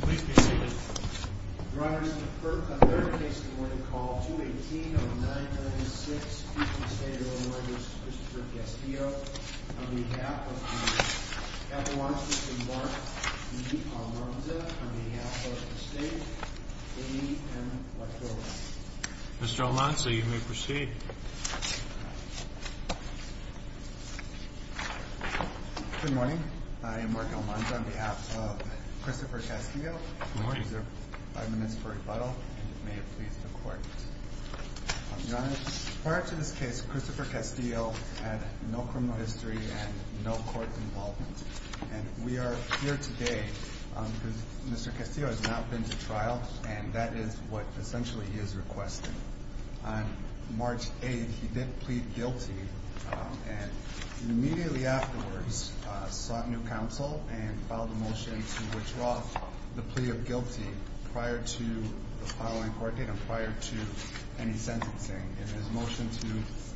Please be seated. Your Honor, Mr. Kirk, on their behalf, I'm going to call 2180996, Chief of the State of Illinois v. Christopher Castillo, on behalf of Appalachia, Mr. Mark E. Almanza, on behalf of the State, Lady M. Laquilla. Mr. Almanza, you may proceed. Good morning. I am Mark Almanza on behalf of Christopher Castillo. Good morning, sir. Five minutes for rebuttal, and may it please the Court. Your Honor, prior to this case, Christopher Castillo had no criminal history and no court involvement. And we are here today because Mr. Castillo has not been to trial, and that is what essentially he is requesting. On March 8th, he did plead guilty, and immediately afterwards sought new counsel and filed a motion to withdraw the plea of guilty prior to the following court date and prior to any sentencing. In his motion to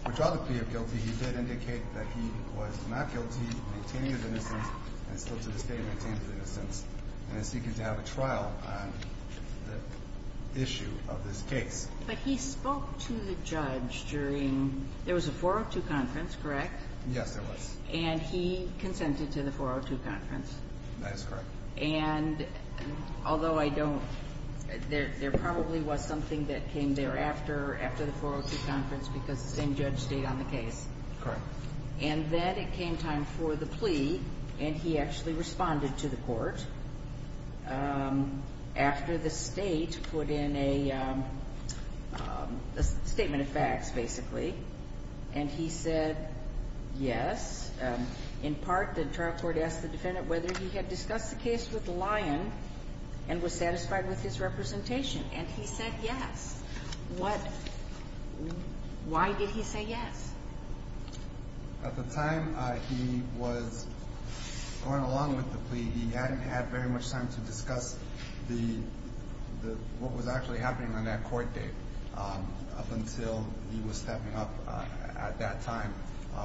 withdraw the plea of guilty, he did indicate that he was not guilty, maintaining his innocence, and still to this day maintains his innocence, and is seeking to have a trial on the issue of this case. But he spoke to the judge during – there was a 402 conference, correct? Yes, there was. And he consented to the 402 conference. That is correct. And although I don't – there probably was something that came thereafter, after the 402 conference, because the same judge stayed on the case. Correct. And then it came time for the plea, and he actually responded to the court. After the state put in a statement of facts, basically, and he said yes. In part, the trial court asked the defendant whether he had discussed the case with Lyon and was satisfied with his representation, and he said yes. What – why did he say yes? At the time he was going along with the plea, he hadn't had very much time to discuss what was actually happening on that court date up until he was stepping up at that time.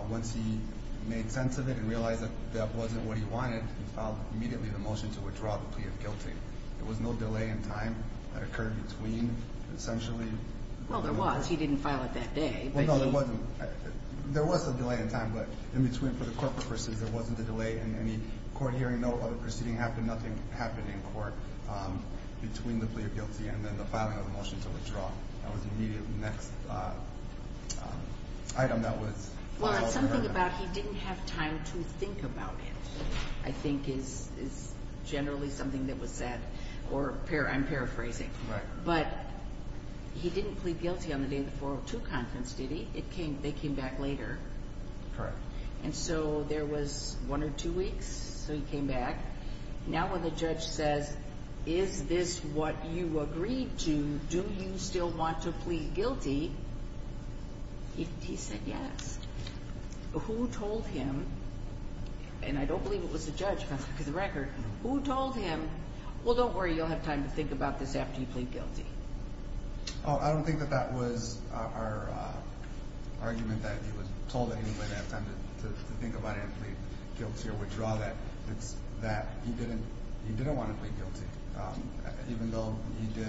Once he made sense of it and realized that that wasn't what he wanted, he filed immediately the motion to withdraw the plea of guilty. There was no delay in time that occurred between, essentially. Well, there was. He didn't file it that day, but he – There was a delay in time, but in between, for the court purposes, there wasn't a delay in any court hearing, no public proceeding happened, nothing happened in court between the plea of guilty and then the filing of the motion to withdraw. That was the immediate next item that was filed. Well, it's something about he didn't have time to think about it, I think, is generally something that was said, or I'm paraphrasing. Right. But he didn't plead guilty on the day of the 402 conference, did he? They came back later. Correct. And so there was one or two weeks, so he came back. Now when the judge says, is this what you agreed to? Do you still want to plead guilty? He said yes. Who told him? And I don't believe it was the judge, for the record. Who told him, well, don't worry, you'll have time to think about this after you plead guilty? I don't think that that was our argument, that he was told that he would have time to think about it and plead guilty or withdraw that. It's that. He didn't want to plead guilty. Even though he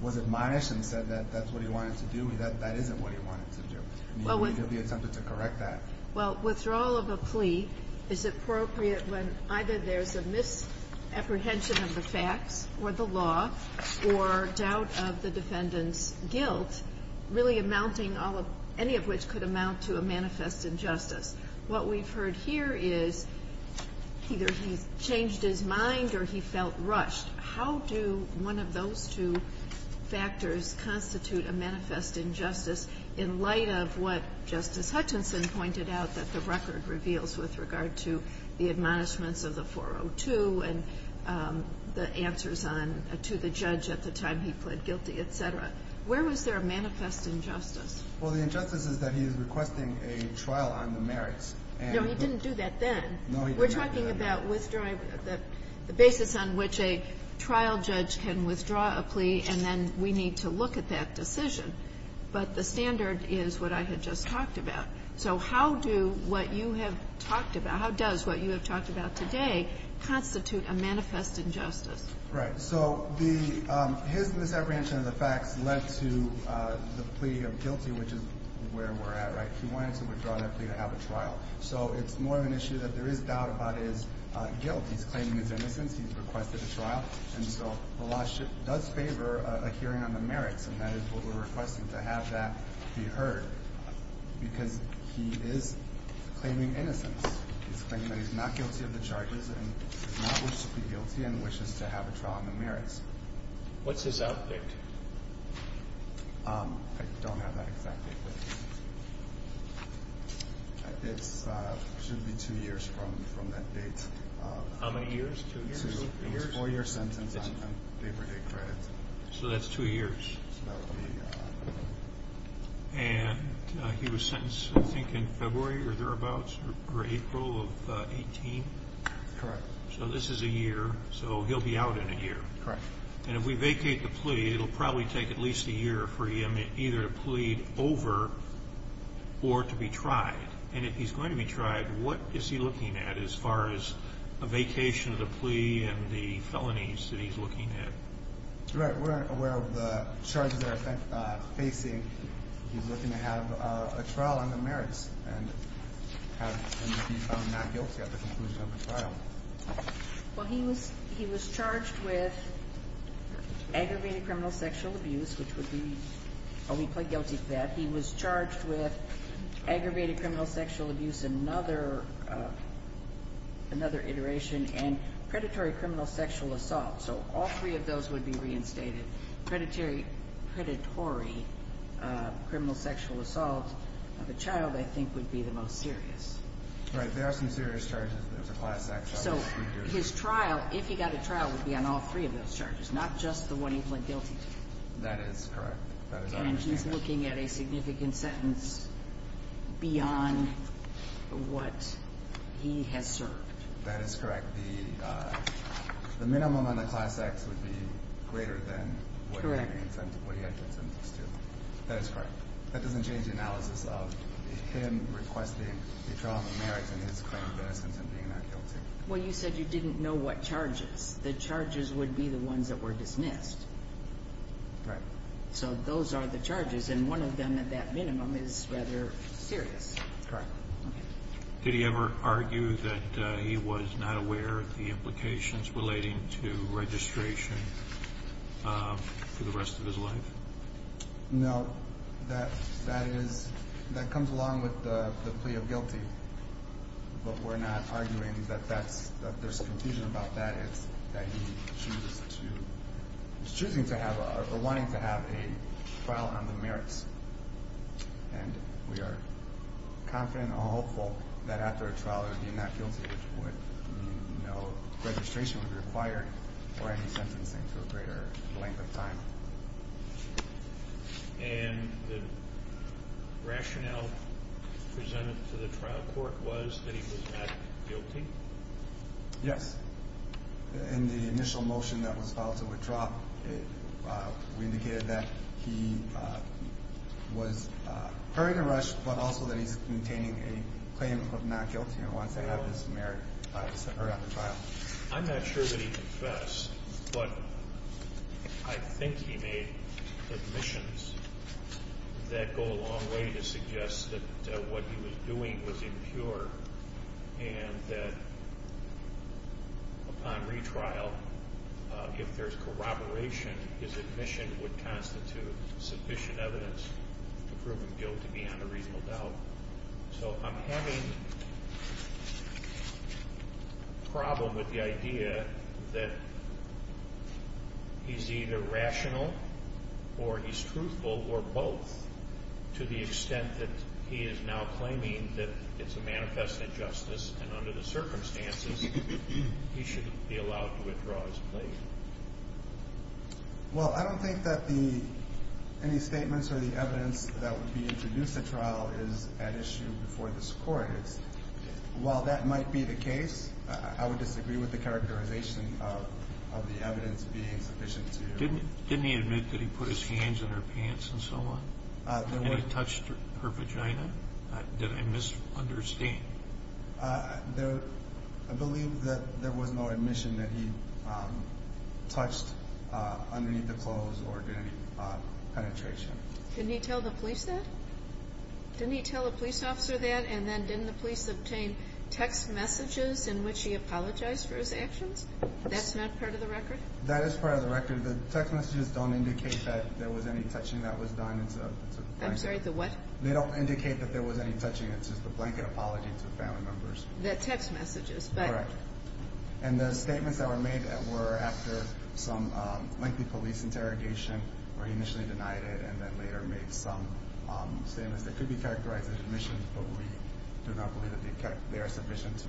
was admonished and said that that's what he wanted to do, that isn't what he wanted to do. He attempted to correct that. Well, withdrawal of a plea is appropriate when either there's a misapprehension of the facts or the law or doubt of the defendant's guilt, really amounting, any of which could amount to a manifest injustice. What we've heard here is either he's changed his mind or he felt rushed. How do one of those two factors constitute a manifest injustice in light of what Justice Hutchinson pointed out that the record reveals with regard to the answers on to the judge at the time he pled guilty, et cetera? Where was there a manifest injustice? Well, the injustice is that he is requesting a trial on the merits. No, he didn't do that then. No, he did not do that then. We're talking about withdrawing the basis on which a trial judge can withdraw a plea, and then we need to look at that decision. But the standard is what I had just talked about. So how do what you have talked about, how does what you have talked about today constitute a manifest injustice? Right. So the his misapprehension of the facts led to the plea of guilty, which is where we're at, right? He wanted to withdraw that plea to have a trial. So it's more of an issue that there is doubt about his guilt. He's claiming his innocence. He's requested a trial. And so the lawsuit does favor a hearing on the merits, and that is what we're requesting, to have that be heard, because he is claiming innocence. He's claiming that he's not guilty of the charges and does not wish to be guilty and wishes to have a trial on the merits. What's his out date? I don't have that exact date. It should be two years from that date. How many years? Two years? It's a four-year sentence on paper day credit. So that's two years. So that would be. And he was sentenced, I think, in February or thereabouts, or April of 18? Correct. So this is a year, so he'll be out in a year. Correct. And if we vacate the plea, it will probably take at least a year for him either to plead over or to be tried. And if he's going to be tried, what is he looking at as far as a vacation of the plea and the felonies that he's looking at? Right. We're aware of the charges that are facing. He's looking to have a trial on the merits and to be found not guilty at the conclusion of the trial. Well, he was charged with aggravated criminal sexual abuse, which would be a plea plea guilty to that. He was charged with aggravated criminal sexual abuse, another iteration, and predatory criminal sexual assault. So all three of those would be reinstated. Predatory criminal sexual assault of a child, I think, would be the most serious. Right. There are some serious charges. There's a class act charge. So his trial, if he got a trial, would be on all three of those charges, not just the one he went guilty to. That is correct. And he's looking at a significant sentence beyond what he has served. That is correct. The minimum on the class acts would be greater than what he had to attend to. That is correct. That doesn't change the analysis of him requesting a trial on the merits and his claim of innocence and being not guilty. Well, you said you didn't know what charges. The charges would be the ones that were dismissed. Right. So those are the charges, and one of them at that minimum is rather serious. Correct. Did he ever argue that he was not aware of the implications relating to registration for the rest of his life? No. That comes along with the plea of guilty, but we're not arguing that there's confusion about that. It's that he's choosing to have or wanting to have a trial on the merits, and we are confident and hopeful that after a trial he would be not guilty, which would mean no registration would be required or any sentencing for a greater length of time. And the rationale presented to the trial court was that he was not guilty? Yes. In the initial motion that was filed to withdraw, we indicated that he was hurried and rushed, but also that he's maintaining a claim of not guilty and wants to have his merits heard at the trial. I'm not sure that he confessed, but I think he made admissions that go a long way to suggest that what he was doing was impure and that upon retrial, if there's corroboration, his admission would constitute sufficient evidence to prove him guilty beyond a reasonable doubt. So I'm having a problem with the idea that he's either rational or he's truthful, or both to the extent that he is now claiming that it's a manifest injustice and under the circumstances he shouldn't be allowed to withdraw his claim. Well, I don't think that any statements or the evidence that would be introduced at trial is at issue before this Court. While that might be the case, I would disagree with the characterization of the evidence being sufficient to... And he touched her vagina? Did I misunderstand? I believe that there was no admission that he touched underneath the clothes or did any penetration. Didn't he tell the police that? Didn't he tell the police officer that and then didn't the police obtain text messages in which he apologized for his actions? That's not part of the record? That is part of the record. The text messages don't indicate that there was any touching that was done. I'm sorry, the what? They don't indicate that there was any touching. It's just a blanket apology to family members. The text messages. Correct. And the statements that were made were after some lengthy police interrogation where he initially denied it and then later made some statements that could be characterized as admissions, but we do not believe that they are sufficient to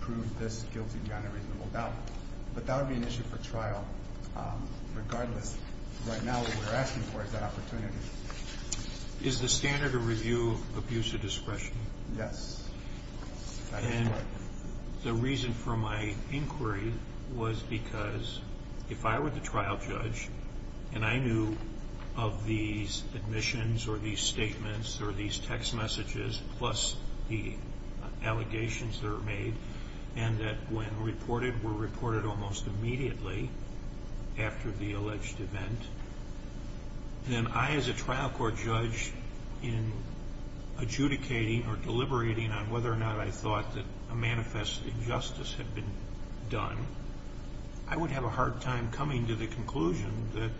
prove this guilty beyond a reasonable doubt. But that would be an issue for trial regardless. Right now what we're asking for is that opportunity. Is the standard of review abuse of discretion? Yes. And the reason for my inquiry was because if I were the trial judge and I knew of these admissions or these statements or these text messages plus the allegations that were made and that when reported, were reported almost immediately after the alleged event, then I as a trial court judge in adjudicating or deliberating on whether or not I thought that a manifest injustice had been done, I would have a hard time coming to the conclusion that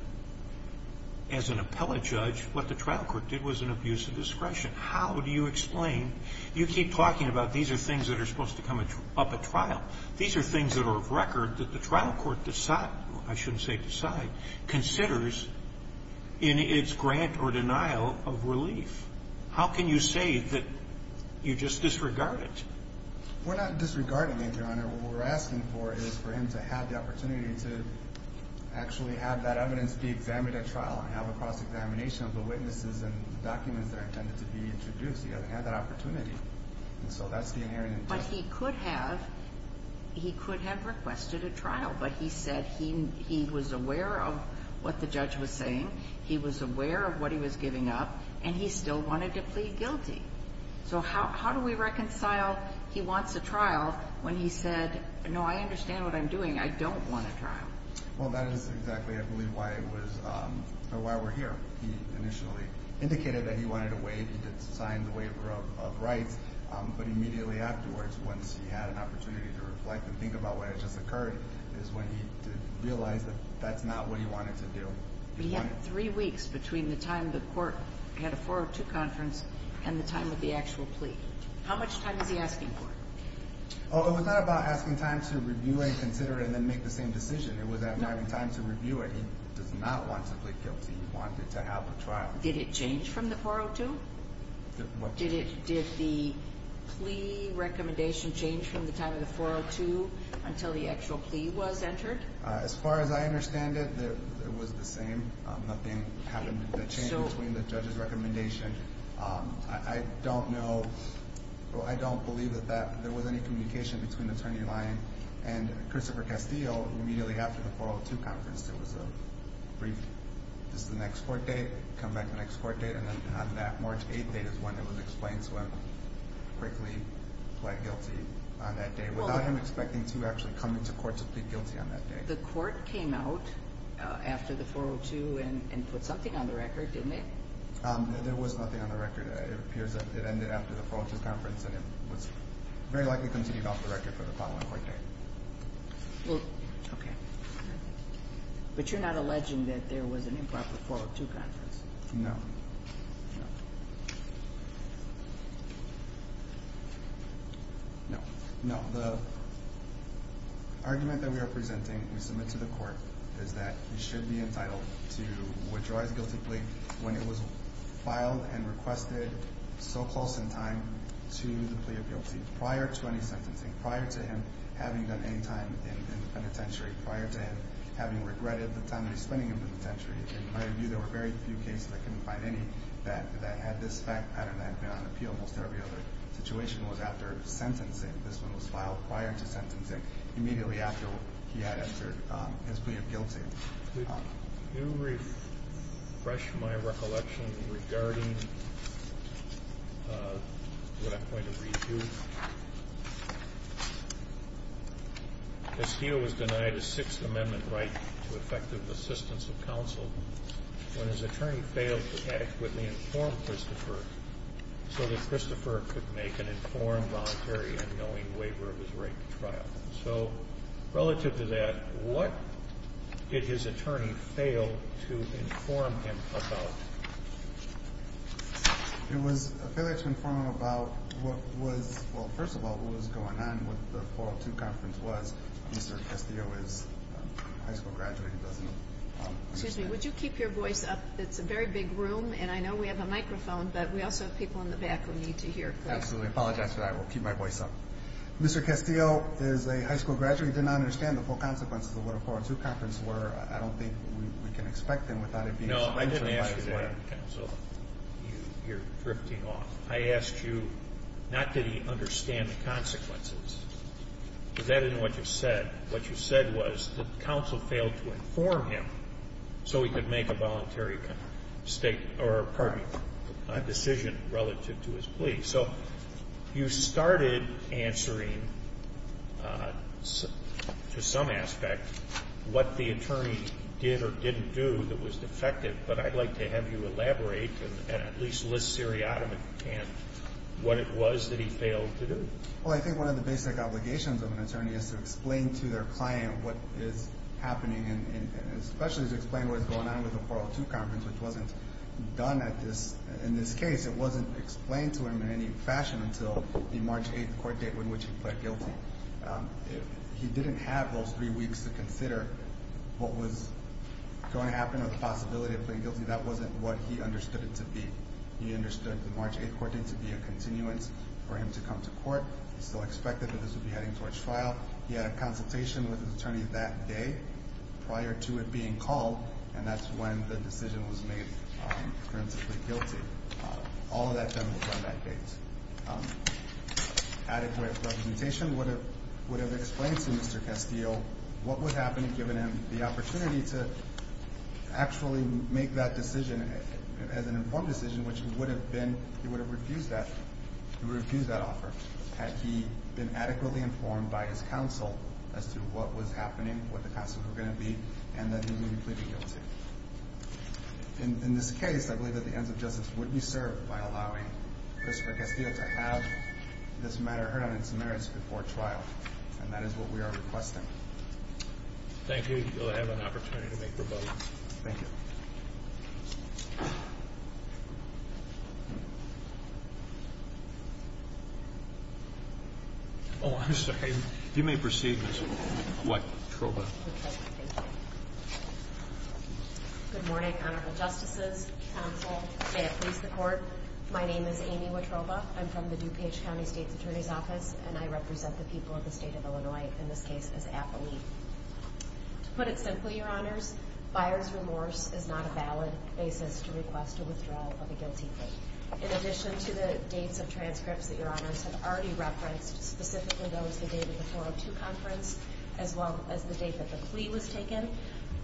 as an appellate judge, what the trial court did was an abuse of discretion. How do you explain? You keep talking about these are things that are supposed to come up at trial. These are things that are of record that the trial court decide, I shouldn't say decide, considers in its grant or denial of relief. How can you say that you just disregard it? We're not disregarding it, Your Honor. What we're asking for is for him to have the opportunity to actually have that evidence be examined at trial and have a cross-examination of the witnesses and documents that are intended to be introduced. He hasn't had that opportunity, and so that's the inherent intent. But he could have requested a trial, but he said he was aware of what the judge was saying, he was aware of what he was giving up, and he still wanted to plead guilty. So how do we reconcile he wants a trial when he said, no, I understand what I'm doing, I don't want a trial? Well, that is exactly, I believe, why we're here. He initially indicated that he wanted a waiver, he did sign the waiver of rights, but immediately afterwards, once he had an opportunity to reflect and think about what had just occurred, is when he realized that that's not what he wanted to do. He had three weeks between the time the court had a 402 conference and the time of the actual plea. How much time is he asking for? It was not about asking time to review and consider and then make the same decision. It was having time to review it. He does not want to plead guilty. He wanted to have a trial. Did it change from the 402? What? Did the plea recommendation change from the time of the 402 until the actual plea was entered? As far as I understand it, it was the same. Nothing happened. The change between the judge's recommendation, I don't know, I don't believe that there was any communication between Attorney Lyon and Christopher Castillo immediately after the 402 conference. There was a brief, this is the next court date, come back the next court date, and then on that March 8th date is when it was explained, so he quickly pled guilty on that day without him expecting to actually come into court to plead guilty on that day. The court came out after the 402 and put something on the record, didn't it? There was nothing on the record. It appears that it ended after the 402 conference and it was very likely continued off the record for the following court date. Okay. But you're not alleging that there was an improper 402 conference? No. No. The argument that we are presenting, we submit to the court, is that he should be entitled to withdraw his guilty plea when it was filed and requested so close in time to the plea of guilty, prior to any sentencing, prior to him having done any time in the penitentiary, prior to him having regretted the time he was spending in the penitentiary. In my view, there were very few cases, I couldn't find any, that had this fact pattern that had been on appeal. Most every other situation was after sentencing. This one was filed prior to sentencing, immediately after he had answered his plea of guilty. Could you refresh my recollection regarding what I'm going to read to you? Castillo was denied a Sixth Amendment right to effective assistance of counsel when his attorney failed to adequately inform Christopher so that Christopher could make an informed, voluntary, and knowing waiver of his right to trial. So, relative to that, what did his attorney fail to inform him about? It was a failure to inform him about what was, well, first of all, what was going on with the 402 Conference was. Mr. Castillo is a high school graduate. Excuse me. Would you keep your voice up? It's a very big room, and I know we have a microphone, but we also have people in the back who need to hear. Absolutely. I apologize for that. I will keep my voice up. Mr. Castillo is a high school graduate. He did not understand the full consequences of what a 402 Conference were. I don't think we can expect him without it being explained to him by his lawyer. No, I didn't ask you that, counsel. You're drifting off. I asked you, not did he understand the consequences, but that isn't what you said. What you said was that counsel failed to inform him so he could make a voluntary decision relative to his plea. So you started answering, to some aspect, what the attorney did or didn't do that was defective, but I'd like to have you elaborate and at least list seriatim what it was that he failed to do. Well, I think one of the basic obligations of an attorney is to explain to their client what is happening and especially to explain what is going on with the 402 Conference, which wasn't done in this case. It wasn't explained to him in any fashion until the March 8th court date on which he pled guilty. If he didn't have those three weeks to consider what was going to happen or the possibility of pleading guilty, that wasn't what he understood it to be. He understood the March 8th court date to be a continuance for him to come to court. He still expected that this would be heading towards trial. He had a consultation with his attorney that day prior to it being called, and that's when the decision was made for him to plead guilty. All of that comes from that case. Adequate representation would have explained to Mr. Castile what would happen if given him the opportunity to actually make that decision as an informed decision, which he would have refused that offer had he been adequately informed by his counsel as to what was happening, what the consequences were going to be, and that he would have pleaded guilty. In this case, I believe that the ends of justice would be served by allowing Christopher Castile to have this matter heard on its merits before trial, and that is what we are requesting. Thank you. You'll have an opportunity to make your vote. Thank you. Oh, I'm sorry. You may proceed, Mr. White. Good morning, Honorable Justices, Counsel, and may it please the Court. My name is Amy Wotroba. I'm from the DuPage County State's Attorney's Office, and I represent the people of the state of Illinois, in this case, as appellee. To put it simply, Your Honors, buyer's remorse is not a valid basis to request a withdrawal of a guilty plea. In addition to the dates of transcripts that Your Honors have already referenced, specifically those the date of the 402 Conference as well as the date that the plea was taken,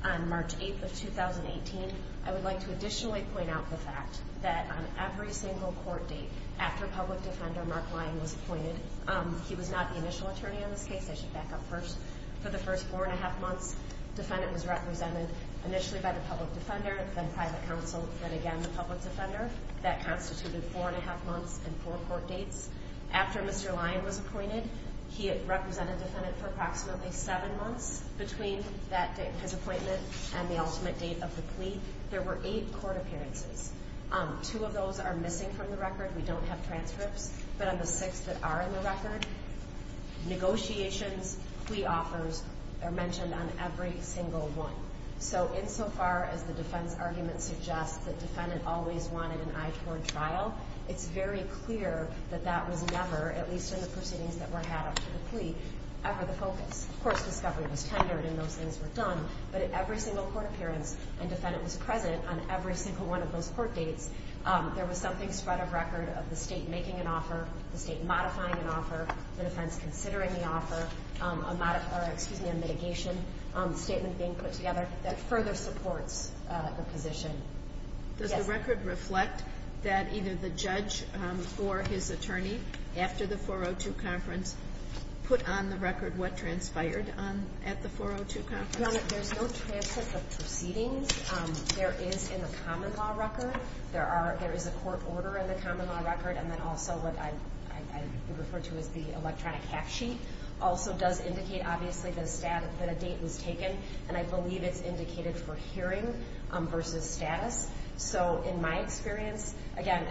on March 8th of 2018, I would like to additionally point out the fact that on every single court date, after public defender Mark Lyon was appointed, he was not the initial attorney on this case. I should back up first. For the first four and a half months, defendant was represented initially by the public defender, then private counsel, then again the public defender. That constituted four and a half months and four court dates. After Mr. Lyon was appointed, he had represented defendant for approximately seven months. Between his appointment and the ultimate date of the plea, there were eight court appearances. Two of those are missing from the record. We don't have transcripts, but on the six that are in the record, negotiations, plea offers are mentioned on every single one. So insofar as the defense argument suggests that defendant always wanted an eye toward trial, it's very clear that that was never, at least in the proceedings that were had up to the plea, ever the focus. Of course, discovery was tendered and those things were done, but at every single court appearance, and defendant was present on every single one of those court dates, there was something spread of record of the State making an offer, the State modifying an offer, the defense considering the offer, a mitigation statement being put together that further supports the position. Does the record reflect that either the judge or his attorney, after the 402 conference, put on the record what transpired at the 402 conference? Your Honor, there's no transcript of proceedings. There is, in the common law record, there is a court order in the common law record, and then also what I would refer to as the electronic fact sheet also does indicate, obviously, that a date was taken, and I believe it's indicated for hearing versus status. So in my experience, again,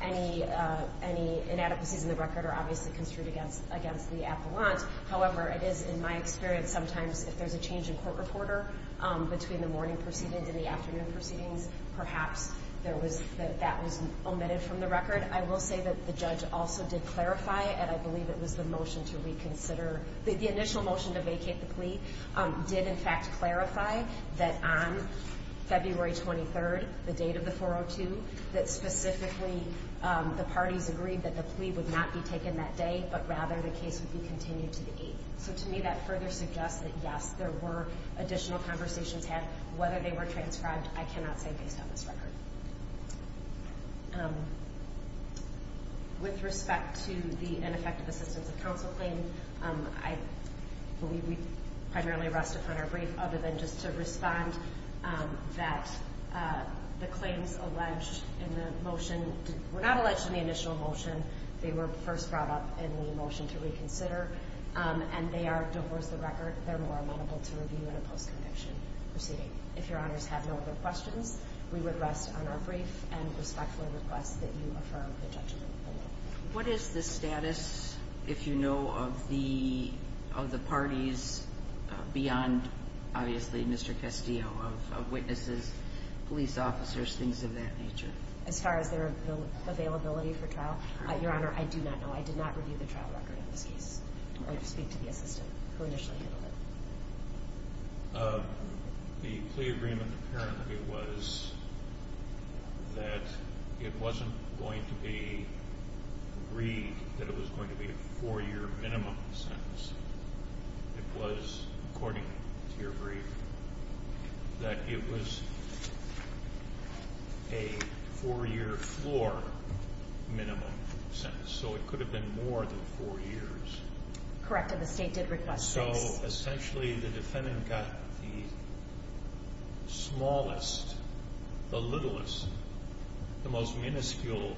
any inadequacies in the record are obviously construed against the appellant. However, it is in my experience, sometimes if there's a change in court reporter between the morning proceedings and the afternoon proceedings, perhaps that was omitted from the record. I will say that the judge also did clarify, and I believe it was the motion to reconsider, the initial motion to vacate the plea, did in fact clarify that on February 23rd, the date of the 402, that specifically the parties agreed that the plea would not be taken that day, but rather the case would be continued to the 8th. So to me, that further suggests that, yes, there were additional conversations had. Whether they were transcribed, I cannot say based on this record. With respect to the ineffective assistance of counsel claim, I believe we primarily rest upon our brief, other than just to respond that the claims alleged in the motion were not alleged in the initial motion. They were first brought up in the motion to reconsider, and they are divorce the record. They're more amenable to review in a post-conviction proceeding. If Your Honors have no other questions, we would rest on our brief and respectfully request that you affirm the judgment. What is the status, if you know, of the parties beyond, obviously, Mr. Castillo, of witnesses, police officers, things of that nature? As far as their availability for trial? Your Honor, I do not know. I did not review the trial record of this case. I speak to the assistant who initially handled it. The plea agreement apparently was that it wasn't going to be agreed that it was going to be a four-year minimum sentence. It was, according to your brief, that it was a four-year floor minimum sentence. So it could have been more than four years. Correct, and the State did request six. So, essentially, the defendant got the smallest, the littlest, the most minuscule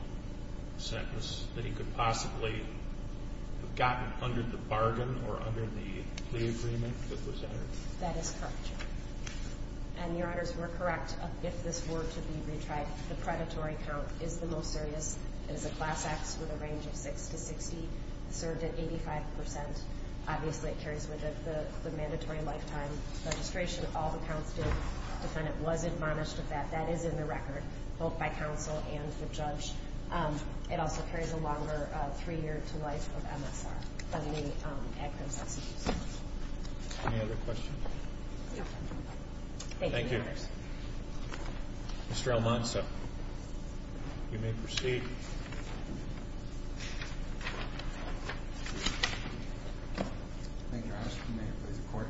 sentence that he could possibly have gotten under the bargain or under the plea agreement with the Senator. That is correct, Your Honor. And, Your Honors, we're correct. If this were to be retried, the predatory count is the most serious. It is a class X with a range of 6 to 60. It served at 85%. Obviously, it carries with it the mandatory lifetime registration. All the counts did. The defendant was admonished of that. That is in the record, both by counsel and the judge. It also carries a longer three-year to life of MSR. It doesn't need to add criminal sentences. Any other questions? Thank you, Your Honors. Thank you. Mr. Almanza, you may proceed. Thank you, Your Honor. If you may, please, report.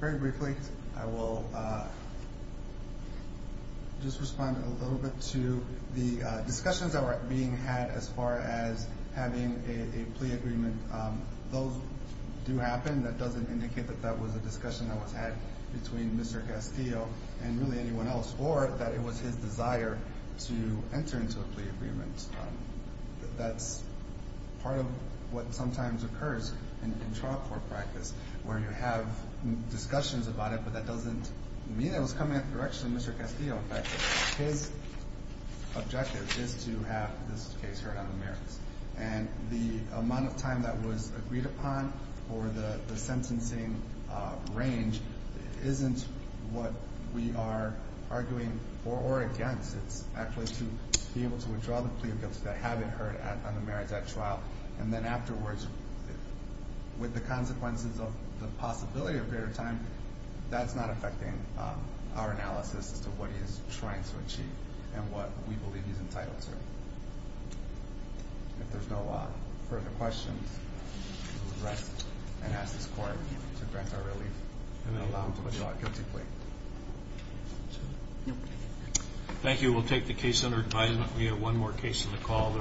Very briefly, I will just respond a little bit to the discussions that were being had as far as having a plea agreement. Those do happen. That doesn't indicate that that was a discussion that was had between Mr. Castillo and really anyone else, or that it was his desire to enter into a plea agreement. That's part of what sometimes occurs in trial court practice, where you have discussions about it, but that doesn't mean it was coming at the direction of Mr. Castillo. In fact, his objective is to have this case heard on the merits. And the amount of time that was agreed upon for the sentencing range isn't what we are arguing for or against. It's actually to be able to withdraw the plea of guilt that had been heard on the merits at trial. And then afterwards, with the consequences of the possibility of greater time, that's not affecting our analysis as to what he is trying to achieve and what we believe he's entitled to. If there's no further questions, we will rest and ask this Court to grant our relief and then allow him to withdraw a guilty plea. Thank you. We'll take the case under advisement. We have one more case on the call.